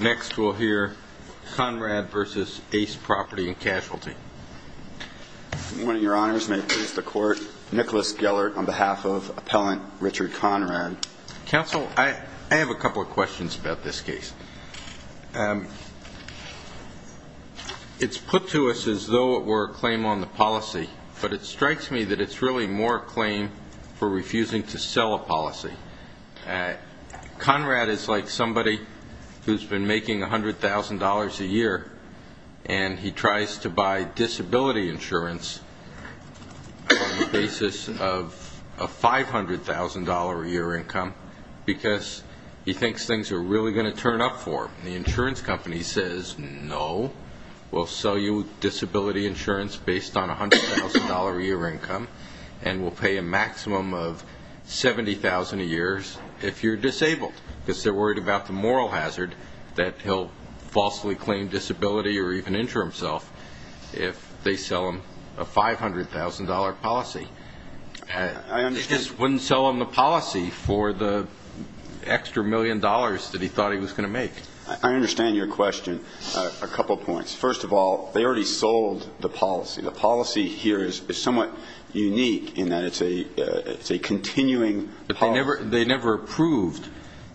Next, we'll hear Conrad v. ACE Property & Casual v. Nicholas Gellert It's put to us as though it were a claim on the policy, but it strikes me that it's really more a claim for refusing to sell a policy. Conrad is like somebody who's been on the basis of a $500,000 a year income because he thinks things are really going to turn up for him. The insurance company says, no, we'll sell you disability insurance based on a $100,000 a year income and we'll pay a maximum of $70,000 a year if you're disabled because they're worried about the moral hazard that he'll falsely claim disability or even a $100,000 policy. It just wouldn't sell him the policy for the extra million dollars that he thought he was going to make. I understand your question. A couple of points. First of all, they already sold the policy. The policy here is somewhat unique in that it's a continuing policy. They never approved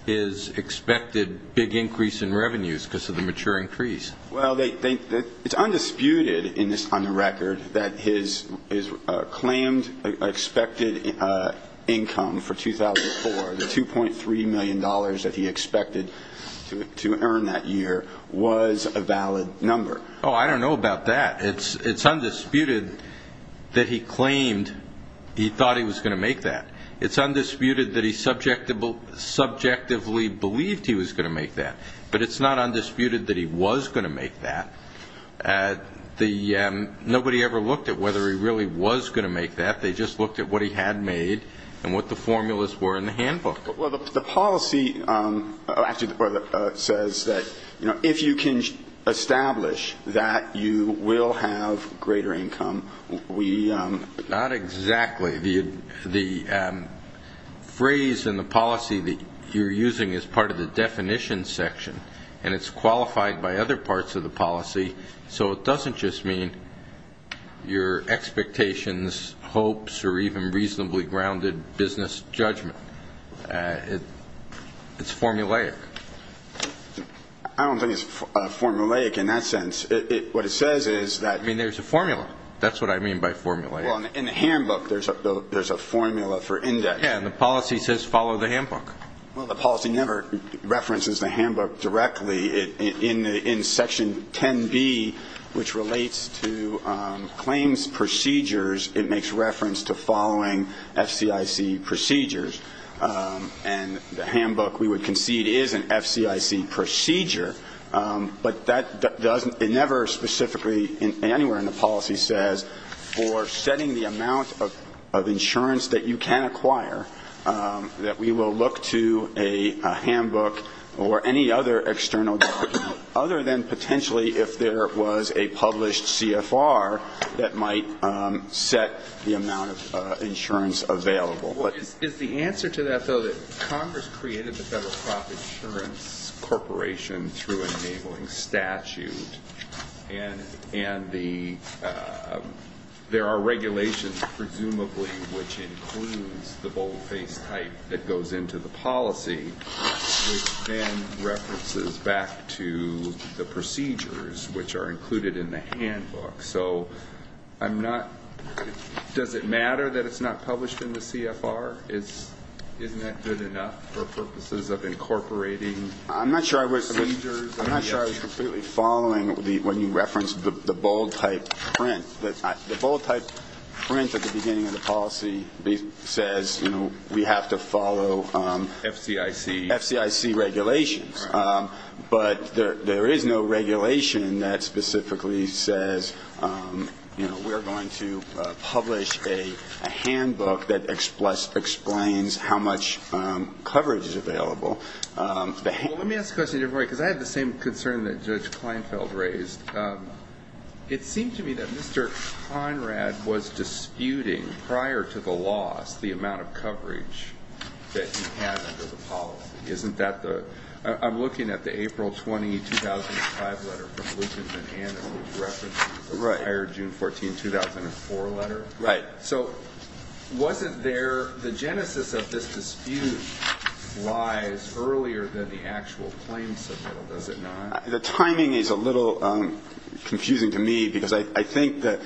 his expected big increase in revenues because of the mature increase. Well, it's undisputed on the record that his claimed expected income for 2004, the $2.3 million that he expected to earn that year, was a valid number. Oh, I don't know about that. It's undisputed that he claimed he thought he was going to make that. It's undisputed that he subjectively believed he was going to make that, but it's not undisputed that he was going to make that. Nobody ever looked at whether he really was going to make that. They just looked at what he had made and what the formulas were in the handbook. Well, the policy actually says that if you can establish that you will have greater income, we... Not exactly. The phrase in the policy that you're using is part of the definition section, and it's qualified by other parts of the policy, so it doesn't just mean your expectations, hopes, or even reasonably grounded business judgment. It's formulaic. I don't think it's formulaic in that sense. What it says is that... I mean, there's a formula. That's what I mean by formulaic. Well, in the handbook, there's a formula for index. Yeah, and the policy says follow the handbook. Well, the policy never references the handbook directly. In section 10B, which relates to claims procedures, it makes reference to following FCIC procedures, and the handbook we would concede is an FCIC procedure, but that doesn't... It never specifically anywhere in the policy says, for setting the amount of insurance that you can acquire, that we will look to a handbook or any other external document, other than potentially if there was a published CFR that might set the amount of insurance available. Is the answer to that, though, that Congress created the Federal Profit Insurance Corporation through an enabling statute, and there are regulations, presumably, which includes the boldface type that goes into the policy, which then references back to the procedures, which are included in the handbook? So I'm not... Does it matter that it's not published in the CFR? Isn't that good enough for purposes of incorporating... I'm not sure I was completely following when you referenced the bold type print. The bold type print at the beginning of the policy says, you know, we have to follow FCIC regulations, but there is no regulation that specifically says, you know, we are going to publish a Let me ask a question, because I have the same concern that Judge Kleinfeld raised. It seemed to me that Mr. Conrad was disputing, prior to the loss, the amount of coverage that he had under the policy. Isn't that the... I'm looking at the April 20, 2005 letter from Lucan Manhattan, who referenced the prior June 14, 2004 letter. So wasn't there... The timing is a little confusing to me, because I think that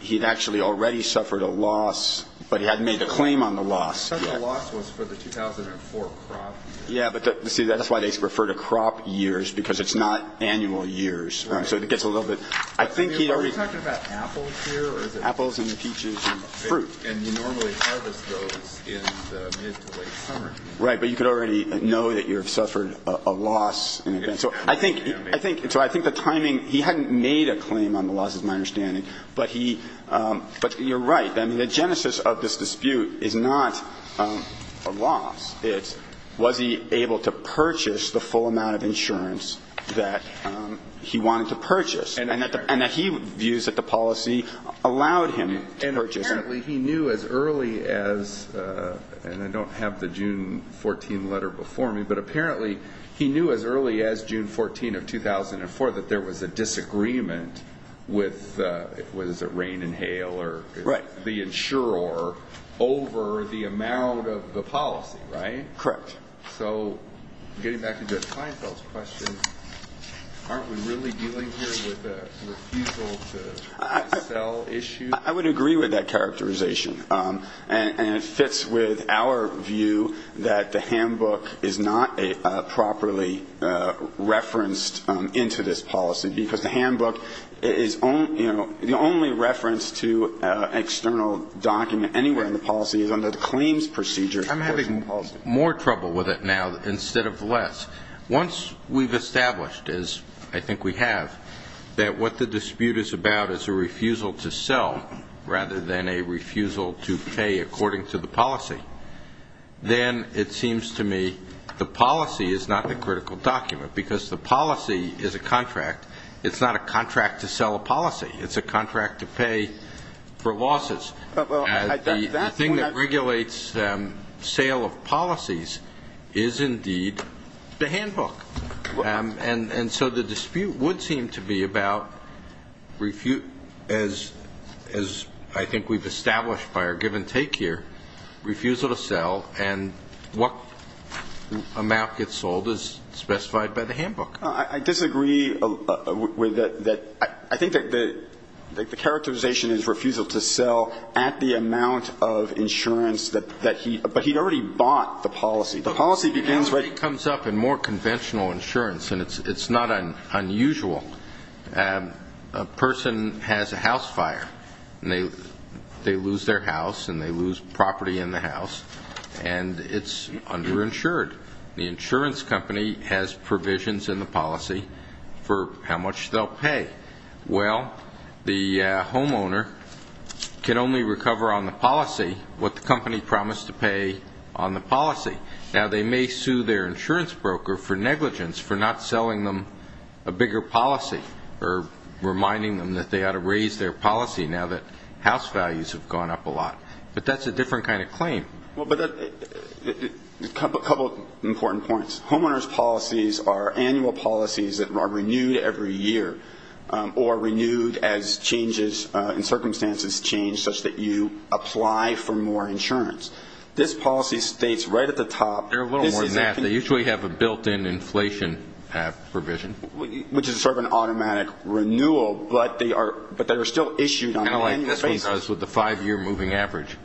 he had actually already suffered a loss, but he hadn't made a claim on the loss. The loss was for the 2004 crop. Yeah, but see, that's why they refer to crop years, because it's not annual years. So it gets a little bit... I think he already... Are you talking about apples here? Apples and peaches and fruit. And you normally harvest those in the mid to late summer. Right, but you could already know that you have suffered a loss in advance. So I think the timing... He hadn't made a claim on the loss, is my understanding, but he... But you're right. I mean, the genesis of this dispute is not a loss. It's was he able to purchase the full amount of insurance that he wanted to purchase, and that he views that the policy allowed him to purchase. Apparently, he knew as early as... And I don't have the June 14 letter before me, but apparently, he knew as early as June 14 of 2004 that there was a disagreement with... Was it Rain and Hail or... Right. The insurer, over the amount of the policy, right? Correct. So getting back into Kleinfeld's question, aren't we really dealing here with a refusal to sell issue? I would agree with that characterization. And it fits with our view that the handbook is not properly referenced into this policy, because the handbook is... The only reference to an external document anywhere in the policy is under the claims procedure. I'm having more trouble with it now instead of less. Once we've established, as I think we have, that what the dispute is about is a refusal to sell rather than a refusal to pay according to the policy, then it seems to me the policy is not the critical document, because the policy is a contract. It's not a contract to sell a policy. It's a contract to pay for losses. Well, I... The thing that regulates sale of policies is indeed the handbook. And so the dispute would seem to be about, as I think we've established by our give and take here, refusal to sell and what amount gets sold as specified by the handbook. I disagree with that. I think that the characterization is refusal to sell at the amount of insurance that he... But he'd already bought the policy. The policy begins... As usual, a person has a house fire, and they lose their house, and they lose property in the house, and it's underinsured. The insurance company has provisions in the policy for how much they'll pay. Well, the homeowner can only recover on the policy what the company promised to pay on the policy. Now, they may sue their insurance broker for a policy or reminding them that they ought to raise their policy now that house values have gone up a lot. But that's a different kind of claim. Well, but a couple of important points. Homeowner's policies are annual policies that are renewed every year or renewed as changes in circumstances change such that you apply for more insurance. This policy states right at the top... They're a little more than that. They usually have a built-in inflation provision. Which is sort of an automatic renewal, but they are still issued on an annual basis. Kind of like this one does with the five-year moving average.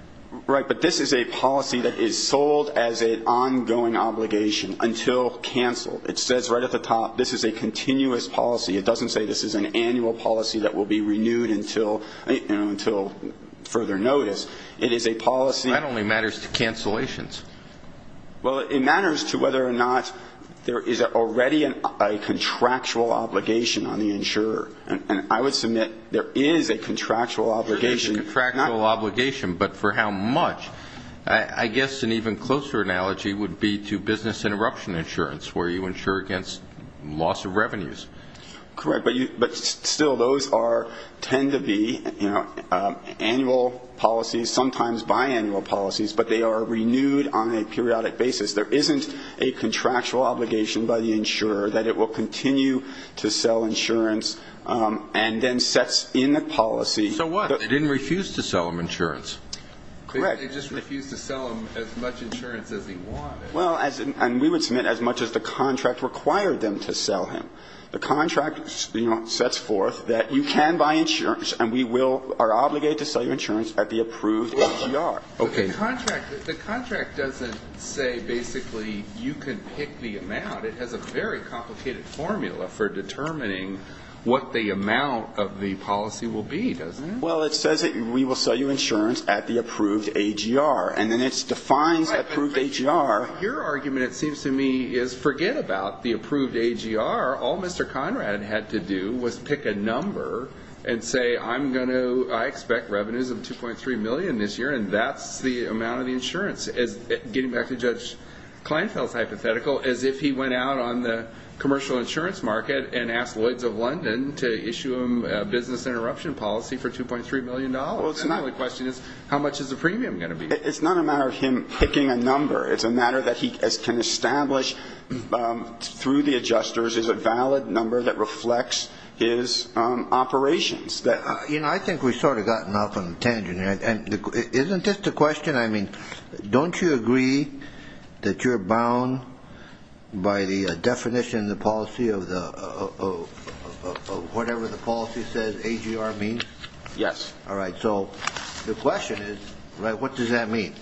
Right, but this is a policy that is sold as an ongoing obligation until canceled. It says right at the top, this is a continuous policy. It doesn't say this is an annual policy that will be renewed until further notice. It is a policy... That only matters to cancellations. Well, it matters to whether or not there is already a contractual obligation on the insurer. And I would submit there is a contractual obligation. There is a contractual obligation, but for how much? I guess an even closer analogy would be to business interruption insurance, where you insure against loss of revenues. Correct, but still, those tend to be annual policies, sometimes biannual policies, but they are renewed on a periodic basis. There isn't a contractual obligation by the insurer that it will continue to sell insurance and then sets in the policy... So what? They didn't refuse to sell him insurance. Correct. They just refused to sell him as much insurance as he wanted. Well, and we would submit as much as the contract required them to sell him. The contract sets forth that you can buy insurance and we are obligated to sell your insurance at the approved ATR. The contract doesn't say, basically, you can pick the amount. It has a very complicated formula for determining what the amount of the policy will be, doesn't it? Well, it says that we will sell you insurance at the approved AGR. And then it defines approved AGR. Your argument, it seems to me, is forget about the approved AGR. All Mr. Conrad had to do was pick a number and say, I expect revenues of $2.3 million this year and that's the amount of the insurance. Getting back to Judge Kleinfeld's hypothetical, as if he went out on the commercial insurance market and asked Lloyds of London to issue him a business interruption policy for $2.3 million. The only question is, how much is the premium going to be? It's not a matter of him picking a number. It's a matter that he can establish through the adjusters is a valid number that reflects his operations. I think we've sort of gotten off on a tangent here. Isn't this the question? Don't you agree that you're bound by the definition of the policy of whatever the policy says AGR means? Yes. All right. So the question is, what does that mean?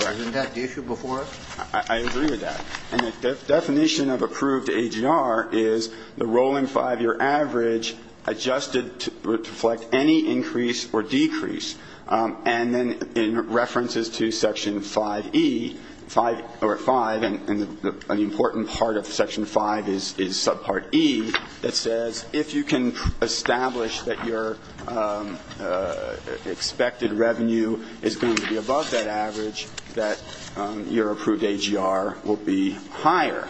Isn't that the issue before us? I agree with that. And the definition of approved AGR is the rolling five-year average adjusted to reflect any increase or decrease. And then in references to Section 5E, and an important part of Section 5 is subpart E, that says if you can establish that your expected revenue is going to be above that average, that your approved AGR will be higher.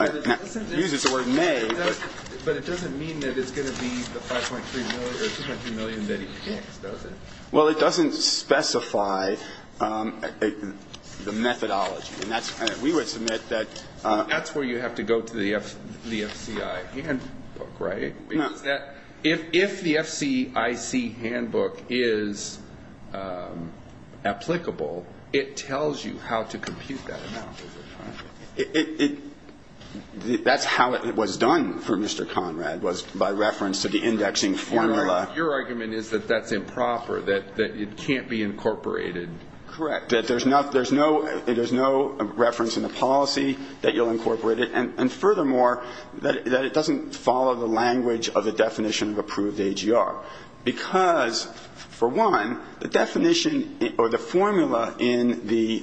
It uses the word may. But it doesn't mean that it's going to be the $5.3 million or $2.3 million that he picks, does it? Well, it doesn't specify the methodology. We would submit that. That's where you have to go to the FCI handbook, right? If the FCIC handbook is applicable, it tells you how to compute that amount. That's how it was done for Mr. Conrad, was by reference to the indexing formula. Your argument is that that's improper, that it can't be incorporated. Correct. That there's no reference in the policy that you'll incorporate it. And furthermore, that it doesn't follow the language of the definition of approved AGR. Because, for one, the definition or the formula in the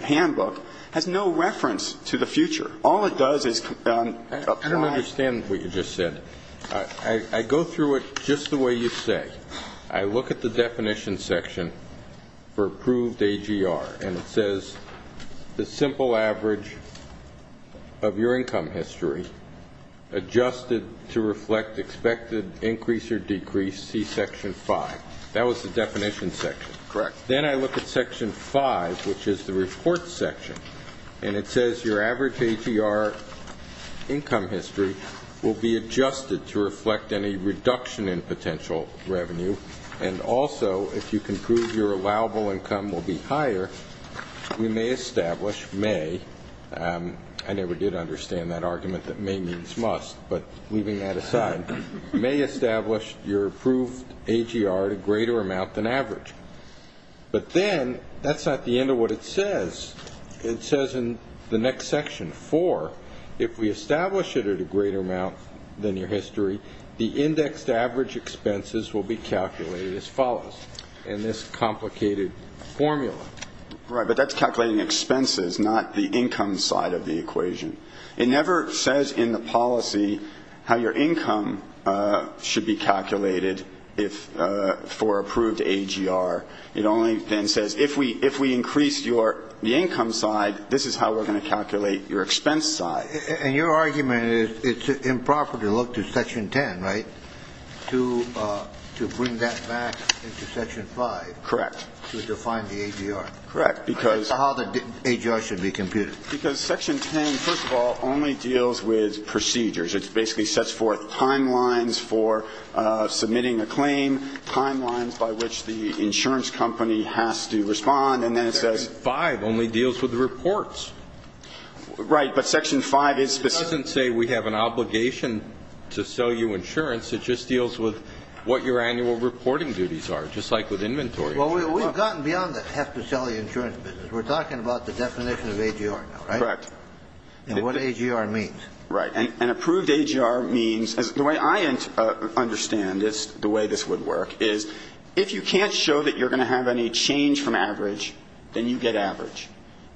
handbook has no reference to the future. All it does is apply... I don't understand what you just said. I go through it just the way you say. I look at the definition section for approved AGR, and it says, the simple average of your income history adjusted to reflect expected increase or decrease, see Section 5. That was the definition section. Correct. Then I look at Section 5, which is the report section, and it says your average AGR income history will be adjusted to reflect any reduction in potential revenue. And also, if you can prove your allowable income will be higher, we may establish... may... I never did understand that argument that may means must, but leaving that aside... may establish your approved AGR at a greater amount than average. But then, that's not the end of what it says. It says in the next section, 4, if we establish it at a greater amount than your history, the indexed average expenses will be calculated as follows in this complicated formula. Right, but that's calculating expenses, not the income side of the equation. It never says in the policy how your income should be calculated if... for approved AGR. It only then says, if we increase your... the income side, this is how we're going to calculate your expense side. And your argument is, it's improper to look to Section 10, right? To bring that back into Section 5. Correct. To define the AGR. Correct, because... How the AGR should be computed. Because Section 10, first of all, only deals with procedures. It basically sets forth timelines for submitting a claim, timelines by which the insurance company has to respond, and then it says... Section 5 only deals with the reports. Right, but Section 5 is specific... It doesn't say we have an obligation to sell you insurance. It just deals with what your annual reporting duties are, just like with inventory. Well, we've gotten beyond the have to sell you insurance business. We're talking about the definition of AGR now, right? Correct. And what AGR means. Right. And approved AGR means... The way I understand this, the way this would work, is if you can't show that you're going to have any change from average, then you get average.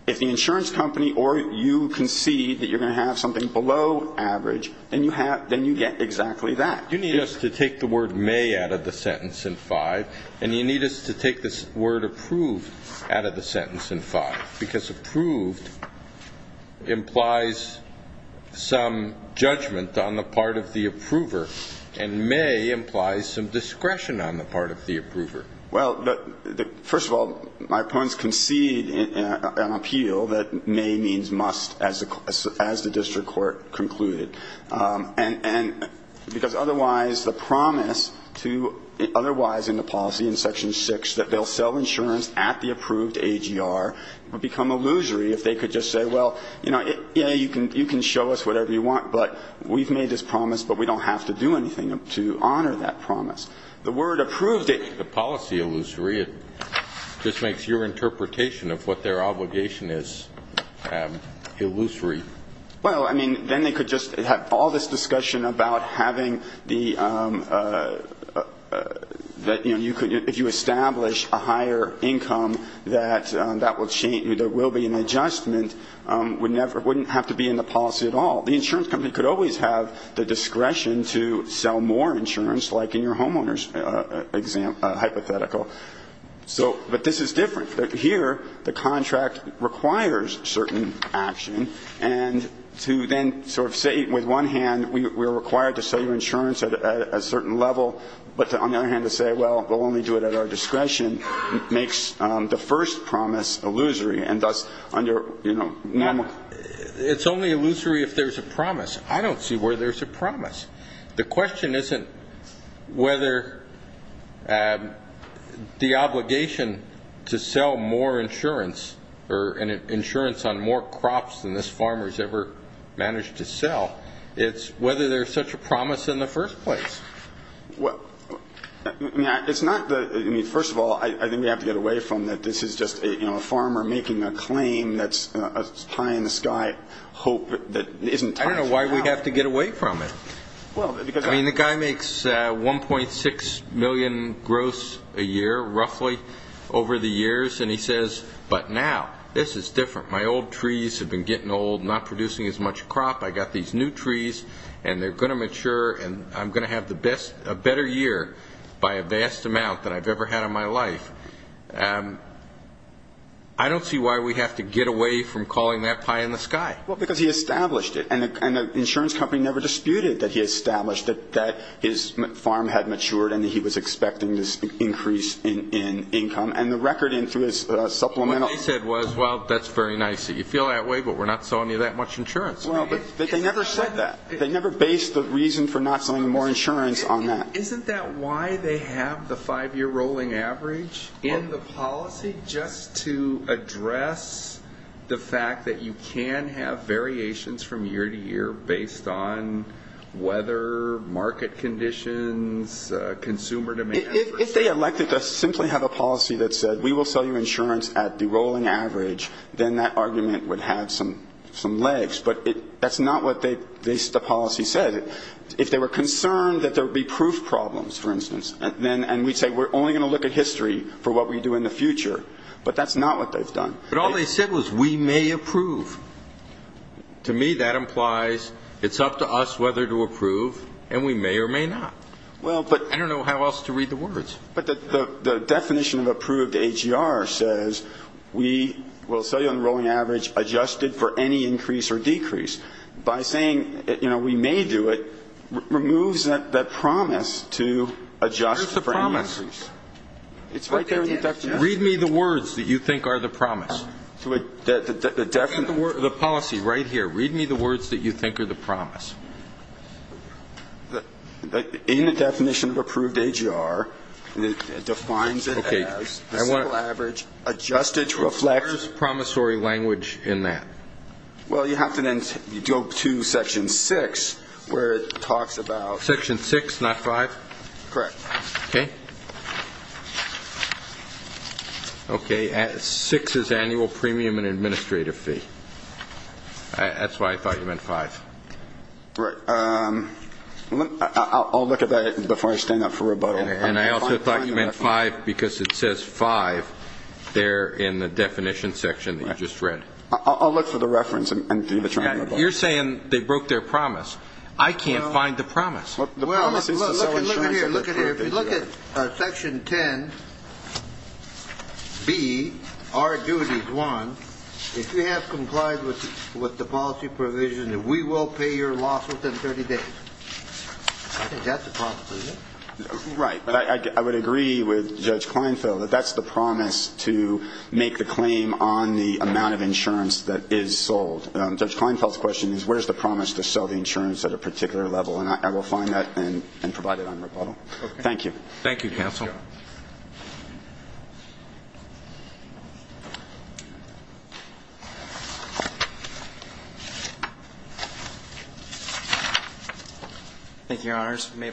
If the insurance company or you concede that you're going to have something below average, then you get exactly that. You need us to take the word may out of the sentence in 5, and you need us to take this word approved out of the sentence in 5, because approved implies some judgment on the part of the approver, and may implies some discretion on the part of the approver. Well, first of all, my puns concede an appeal that may means must as the district court concluded. Because otherwise, the promise to otherwise in the policy in Section 6 that they'll sell insurance at the approved AGR would become illusory if they could just say, you can show us whatever you want, but we've made this promise, but we don't have to do anything to honor that promise. The word approved... just makes your interpretation of what their obligation is illusory. Well, I mean, then they could just have all this discussion about having the, that, you know, if you establish a higher income that there will be an adjustment wouldn't have to be in the policy at all. The insurance company could always have the discretion to sell more insurance like in your homeowner's hypothetical. So, but this is different. Here, the contract requires certain action and to then sort of say, with one hand, we're required to sell your insurance at a certain level but on the other hand to say, well, we'll only do it at our discretion makes the first promise illusory and thus under, you know, normal... It's only illusory if there's a promise. I don't see where there's a promise. The question isn't whether the obligation to sell more insurance on more crops than this farmer has ever managed to sell it's whether there's such a promise in the first place. Well, first of all, I think we have to get away from that this is just a farmer making a claim that's high in the sky hope that isn't... I don't know why we have to get away from it. I mean, the guy makes 1.6 million growths a year, roughly over the years and he says but now, this is different my old trees have been getting old not producing as much crop, I got these new trees and they're going to mature and I'm going to have a better year by a vast amount than I've ever had in my life I don't see why we have to get away from calling that high in the sky. Well, because he established it and the insurance company never disputed that he established that his farm had matured and he was expecting this increase in income and the record in through his supplemental What they said was, well, that's very nice that you feel that way but we're not selling you that much insurance. Well, but they never said that they never based the reason for not selling more insurance on that. Isn't that why they have the five year rolling average in the policy just to address the fact that you can have variations from year to year based on weather market conditions consumer demand If they elected to simply have a policy that said we will sell you insurance at the rolling average, then that argument would have some legs, but that's not what the policy said if they were concerned that there would be proof problems, for instance and we'd say we're only going to look at history for what we do in the future but that's not what they've done. But all they said was we may approve To me, that implies it's up to us whether to approve and we may or may not I don't know how else to read the words But the definition of approved AGR says we will sell you on the rolling average adjusted for any increase or decrease. By saying we may do it, removes that promise to adjust for any increase It's right there in the definition Read me the words that you think are the promise The policy right here, read me the words that you think are the promise In the definition of approved AGR it defines it as the simple average, adjusted to reflect Where's promissory language in that? Well, you have to then go to section 6, where it talks about Section 6, not 5? Correct Okay 6 is annual premium and administrative fee That's why I thought you meant 5 Right I'll look at that before I stand up for rebuttal And I also thought you meant 5 because it says 5 there in the definition section that you just read I'll look for the reference You're saying they broke their promise I can't find the promise Well, look at here If you look at section 10 B, our duty is 1 If you have complied with the policy provision we will pay your loss within 30 days I think that's a promise Right I would agree with Judge Kleinfeld that's the promise to make the claim on the amount of insurance that is sold Judge Kleinfeld's question is where's the promise to sell the insurance at a particular level and I will find that and provide it on rebuttal Thank you Thank you, your honors My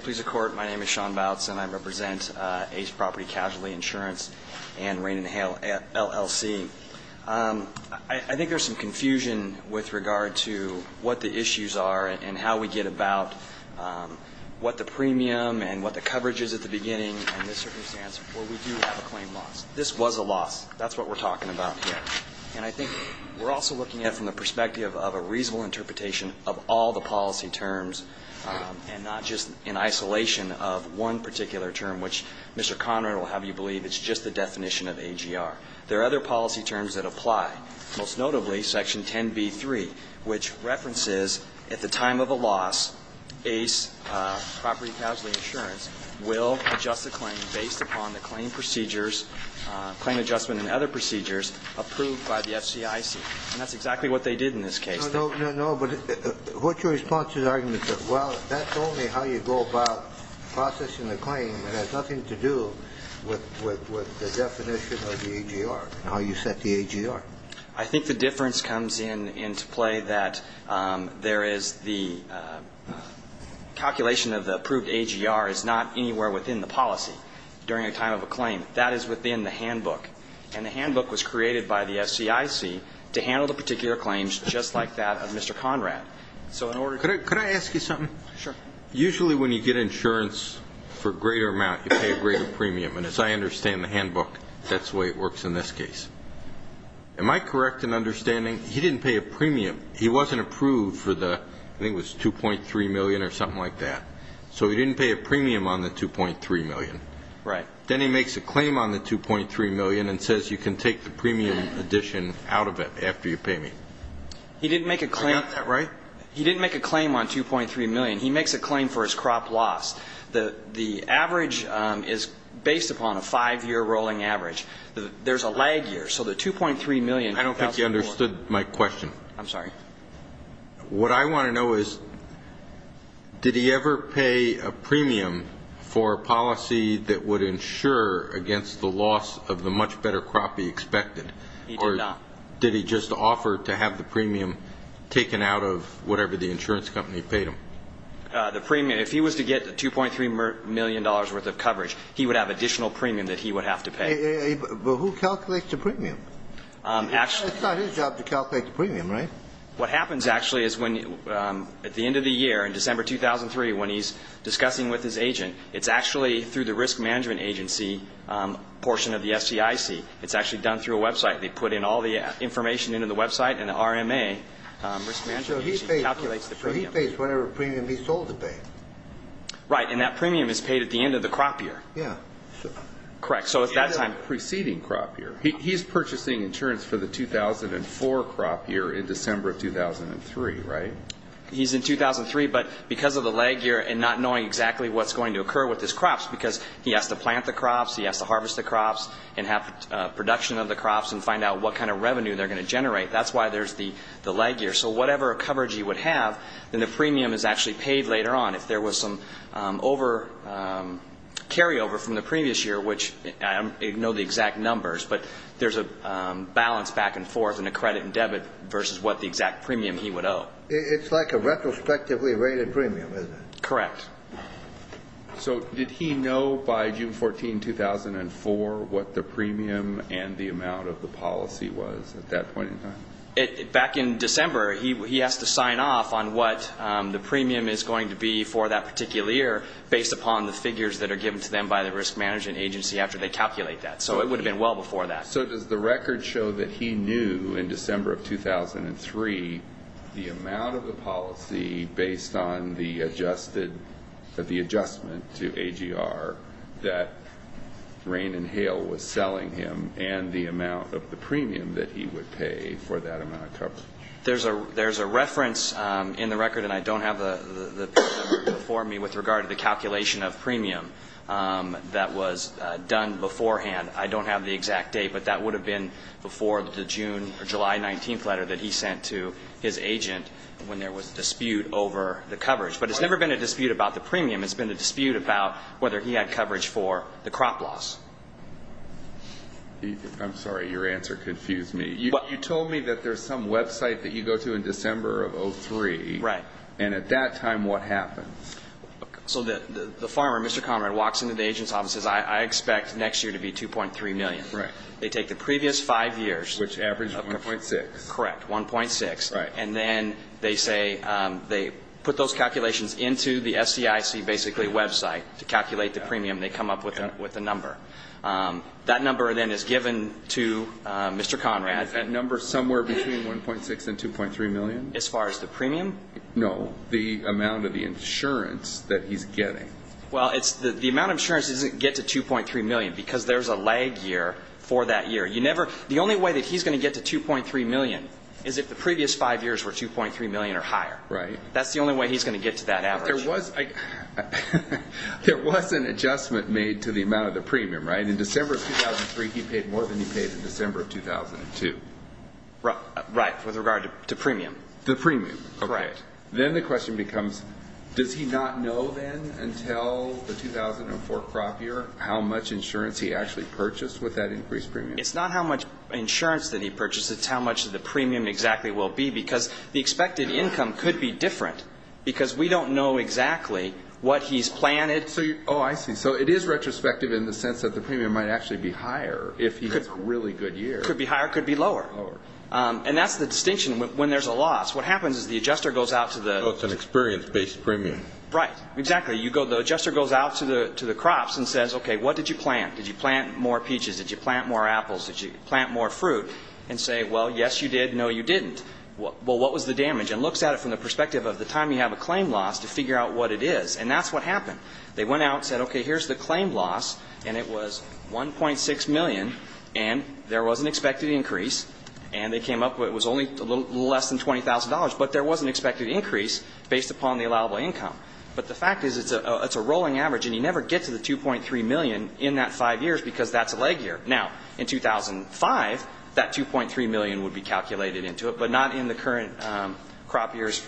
name is Sean Bouts and I represent Ace Property Casualty Insurance and Rain and Hail LLC I think there's some confusion with regard to what the issues are and how we get about what the premium and what the coverage is at the beginning in this circumstance where we do have a claim loss this was a loss that's what we're talking about and I think we're also looking at from the perspective of a reasonable interpretation of all the policy terms and not just in isolation of one particular term which Mr. Conrad will have you believe it's just the definition of AGR there are other policy terms that apply most notably section 10b3 which references at the time of a loss Ace Property Casualty Insurance will adjust the claim based upon the claim procedures claim adjustment and other procedures approved by the FCIC and that's exactly what they did in this case No, but what's your response to the argument that well that's only how you go about processing the claim it has nothing to do with the definition of the AGR and how you set the AGR I think the difference comes in to play that there is the calculation of the approved AGR is not anywhere within the policy during a time of a claim that is within the handbook and the handbook was created by the FCIC to handle the particular claims just like that of Mr. Conrad Could I ask you something? Usually when you get insurance for a greater amount you pay a greater premium and as I understand the handbook that's the way it works in this case Am I correct in understanding he didn't pay a premium he wasn't approved for the 2.3 million or something like that so he didn't pay a premium on the 2.3 million then he makes a claim on the 2.3 million and says you can take the premium addition out of it after you pay me He didn't make a claim He didn't make a claim on 2.3 million he makes a claim for his crop loss the average is based upon a 5 year rolling average there is a lag year so the 2.3 million I don't think you understood my question I'm sorry What I want to know is did he ever pay a premium for a policy that would ensure against the loss of the much better crop he expected or did he just offer to have the premium taken out of whatever the insurance company paid him If he was to get the 2.3 million dollars worth of coverage he would have additional premium that he would have to pay Who calculates the premium It's not his job to calculate the premium What happens actually is at the end of the year in December 2003 when he's discussing with his agent it's actually through the risk management agency portion of the STIC it's actually done through a website they put in all the information into the website and the RMA calculates the premium So he pays whatever premium he's told to pay Right, and that premium is paid at the end of the crop year Yeah Correct He's purchasing insurance for the 2004 crop year in December 2003, right He's in 2003 but because of the lag year and not knowing exactly what's going to occur with his crops because he has to plant the crops he has to harvest the crops and have production of the crops and find out what kind of revenue they're going to generate that's why there's the lag year so whatever coverage he would have then the premium is actually paid later on if there was some carryover from the previous year which I don't know the exact numbers but there's a balance back and forth and a credit and debit versus what the exact premium he would owe It's like a retrospectively rated premium, isn't it Correct So did he know by June 14, 2004 what the premium and the amount of the policy was at that point in time Back in December, he has to sign off on what the premium is going to be for that particular year based upon the figures that are given to them by the risk management agency after they calculate that so it would have been well before that So does the record show that he knew in December of 2003 the amount of the policy based on the adjustment to AGR that Rain and Hail was selling him and the amount of the premium that he would pay for that amount of coverage There's a reference in the record and I don't have the before me with regard to the calculation of premium that was done beforehand I don't have the exact date but that would have been before the July 19th letter that he sent to his agent when there was dispute over the coverage but it's never been a dispute about the premium it's been a dispute about whether he had coverage for the crop loss I'm sorry, your answer confused me. You told me that there's some website that you go to in December of 2003 and at that time what happened So the farmer, Mr. Conrad walks into the agent's office and says I expect next year to be 2.3 million They take the previous five years Which averaged 1.6 Correct, 1.6 They put those calculations into the SCIC website to calculate the premium and they come up with the number That number then is given to Mr. Conrad Is that number somewhere between 1.6 and 2.3 million? As far as the premium? No, the amount of the insurance that he's getting The amount of insurance doesn't get to 2.3 million because there's a lag year The only way that he's going to get to 2.3 million is if the previous five years were 2.3 million or higher That's the only way he's going to get to that average There was an adjustment made to the amount of the premium In December of 2003 he paid more than he paid in December of 2002 Right, with regard to premium The premium Then the question becomes does he not know then until the 2004 crop year how much insurance he actually purchased with that increased premium It's not how much insurance that he purchased It's how much the premium exactly will be because the expected income could be different because we don't know exactly what he's planted Oh, I see, so it is retrospective in the sense that the premium might actually be higher if he gets a really good year Could be higher, could be lower And that's the distinction when there's a loss What happens is the adjuster goes out to the It's an experience-based premium Right, exactly, the adjuster goes out to the crops and says, okay, what did you plant Did you plant more peaches? Did you plant more apples? Did you plant more fruit? And say, well, yes you did, no you didn't Well, what was the damage? And looks at it from the perspective of the time you have a claim loss to figure out what it is And that's what happened They went out and said, okay, here's the claim loss And it was 1.6 million And there was an expected increase And they came up with, it was only a little less than $20,000, but there was an expected increase based upon the allowable income But the fact is it's a rolling average And you never get to the 2.3 million in that five years because that's a leg year Now, in 2005 that 2.3 million would be calculated into it but not in the current crop years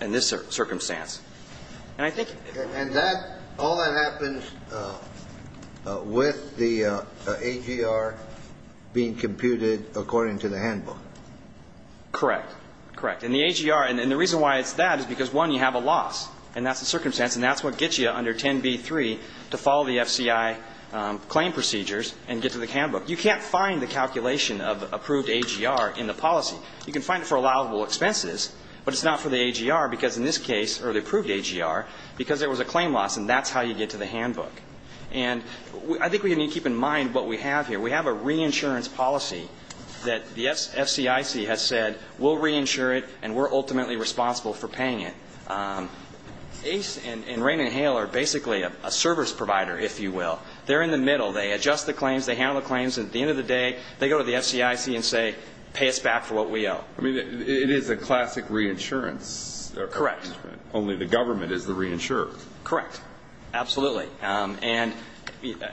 in this circumstance And I think And that, all that happens with the AGR being computed according to the handbook Correct And the AGR, and the reason why it's that is because, one, you have a loss and that's the circumstance, and that's what gets you under 10b-3 to follow the FCI claim procedures and get to the handbook You can't find the calculation of approved AGR in the policy You can find it for allowable expenses but it's not for the AGR because in this case or the approved AGR, because there was a claim loss and that's how you get to the handbook And I think we need to keep in mind what we have here We have a reinsurance policy that the FCIC has said we'll reinsure it and we're ultimately responsible for paying it ACE and Raymond Hale are basically a service provider if you will They're in the middle, they adjust the claims, they handle the claims and at the end of the day, they go to the FCIC and say pay us back for what we owe I mean, it is a classic reinsurance Correct Only the government is the reinsurer Correct, absolutely And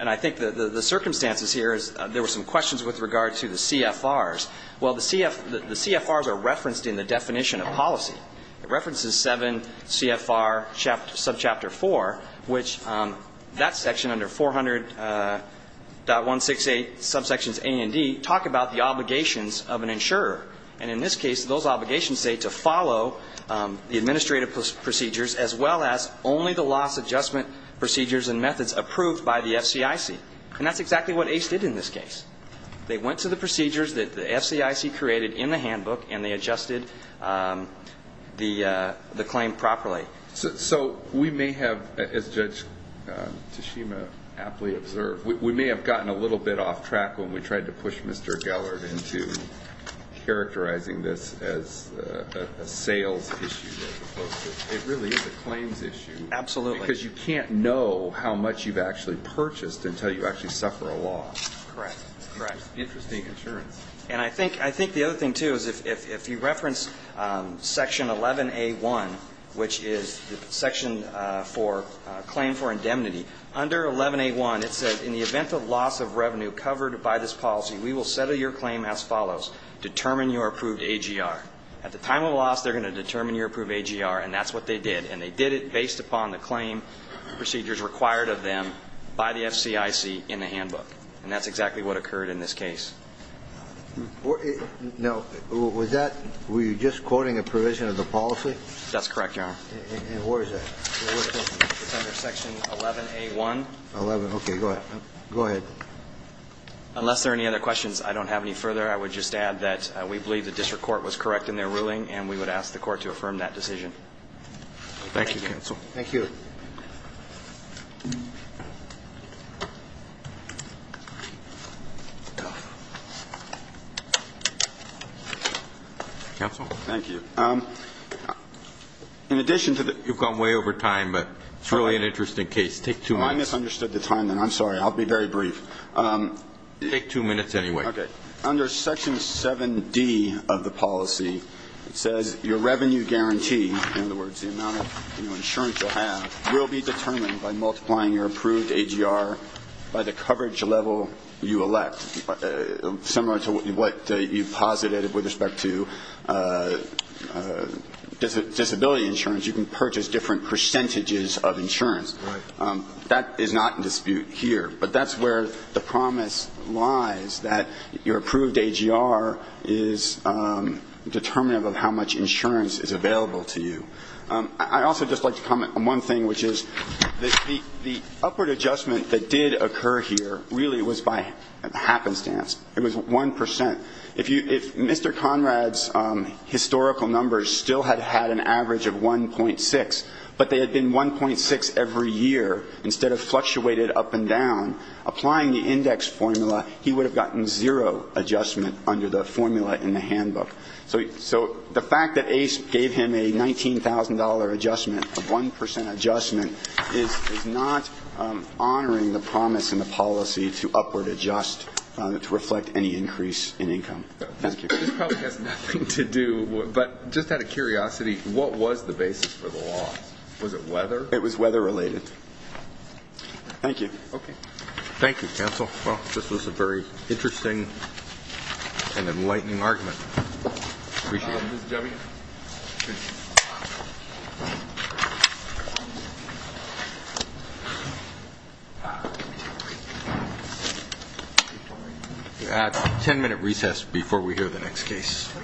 I think the circumstances here There were some questions with regard to the CFRs Well, the CFRs are referenced in the definition of policy It references 7 CFR subchapter 4 which that section under 400.168 subsections A and D talk about the obligations of an insurer and in this case, those obligations say to follow the administrative procedures as well as only the loss adjustment procedures and methods approved by the FCIC and that's exactly what ACE did in this case They went to the procedures that the FCIC created in the handbook and they adjusted the claim properly So, we may have as Judge Tashima aptly observed, we may have gotten a little bit off track when we tried to push Mr. Gellert into characterizing this as a sales issue as opposed to, it really is a claims issue Absolutely Because you can't know how much you've actually purchased until you actually suffer a loss Interesting insurance And I think the other thing too is if you reference section 11A1 which is the claim for indemnity, under 11A1 it says, in the event of loss of revenue covered by this policy, we will settle your claim as follows, determine your approved AGR. At the time of loss they're going to determine your approved AGR and that's what they did. And they did it based upon the claim procedures required of them by the FCIC in the handbook. And that's exactly what occurred in this case Now, was that were you just quoting a provision of the policy? That's correct, Your Honor And where is that? It's under section 11A1 Okay, go ahead Unless there are any other questions I don't have any further. I would just add that we believe the district court was correct in their ruling and we would ask the court to affirm that decision Thank you, counsel Thank you Counsel? Thank you In addition to the You've gone way over time, but it's really an interesting case. Take two minutes I misunderstood the time then. I'm sorry. I'll be very brief Take two minutes anyway Under section 7D of the policy it says your revenue guarantee in other words, the amount of insurance you'll have will be determined by multiplying your approved AGR by the coverage level you elect similar to what you posited with respect to disability insurance, you can purchase different percentages of insurance That is not in dispute here, but that's where the promise lies that your approved AGR is determinative of how much insurance is available to you I'd also just like to comment on one thing which is the upward adjustment that did occur here really was by happenstance. It was 1% If Mr. Conrad's historical numbers still had had an average of 1.6 but they had been 1.6 every year, instead of fluctuated up and down, applying the index formula, he would have gotten zero adjustment under the formula in the handbook. So the fact that ACE gave him a $19,000 adjustment, a 1% adjustment is not honoring the promise in the policy to upward adjust to reflect any increase in income This probably has nothing to do but just out of curiosity what was the basis for the law? Was it weather? It was weather related Thank you Thank you counsel This was a very interesting and enlightening argument Appreciate it We'll have a 10 minute recess before we hear the next case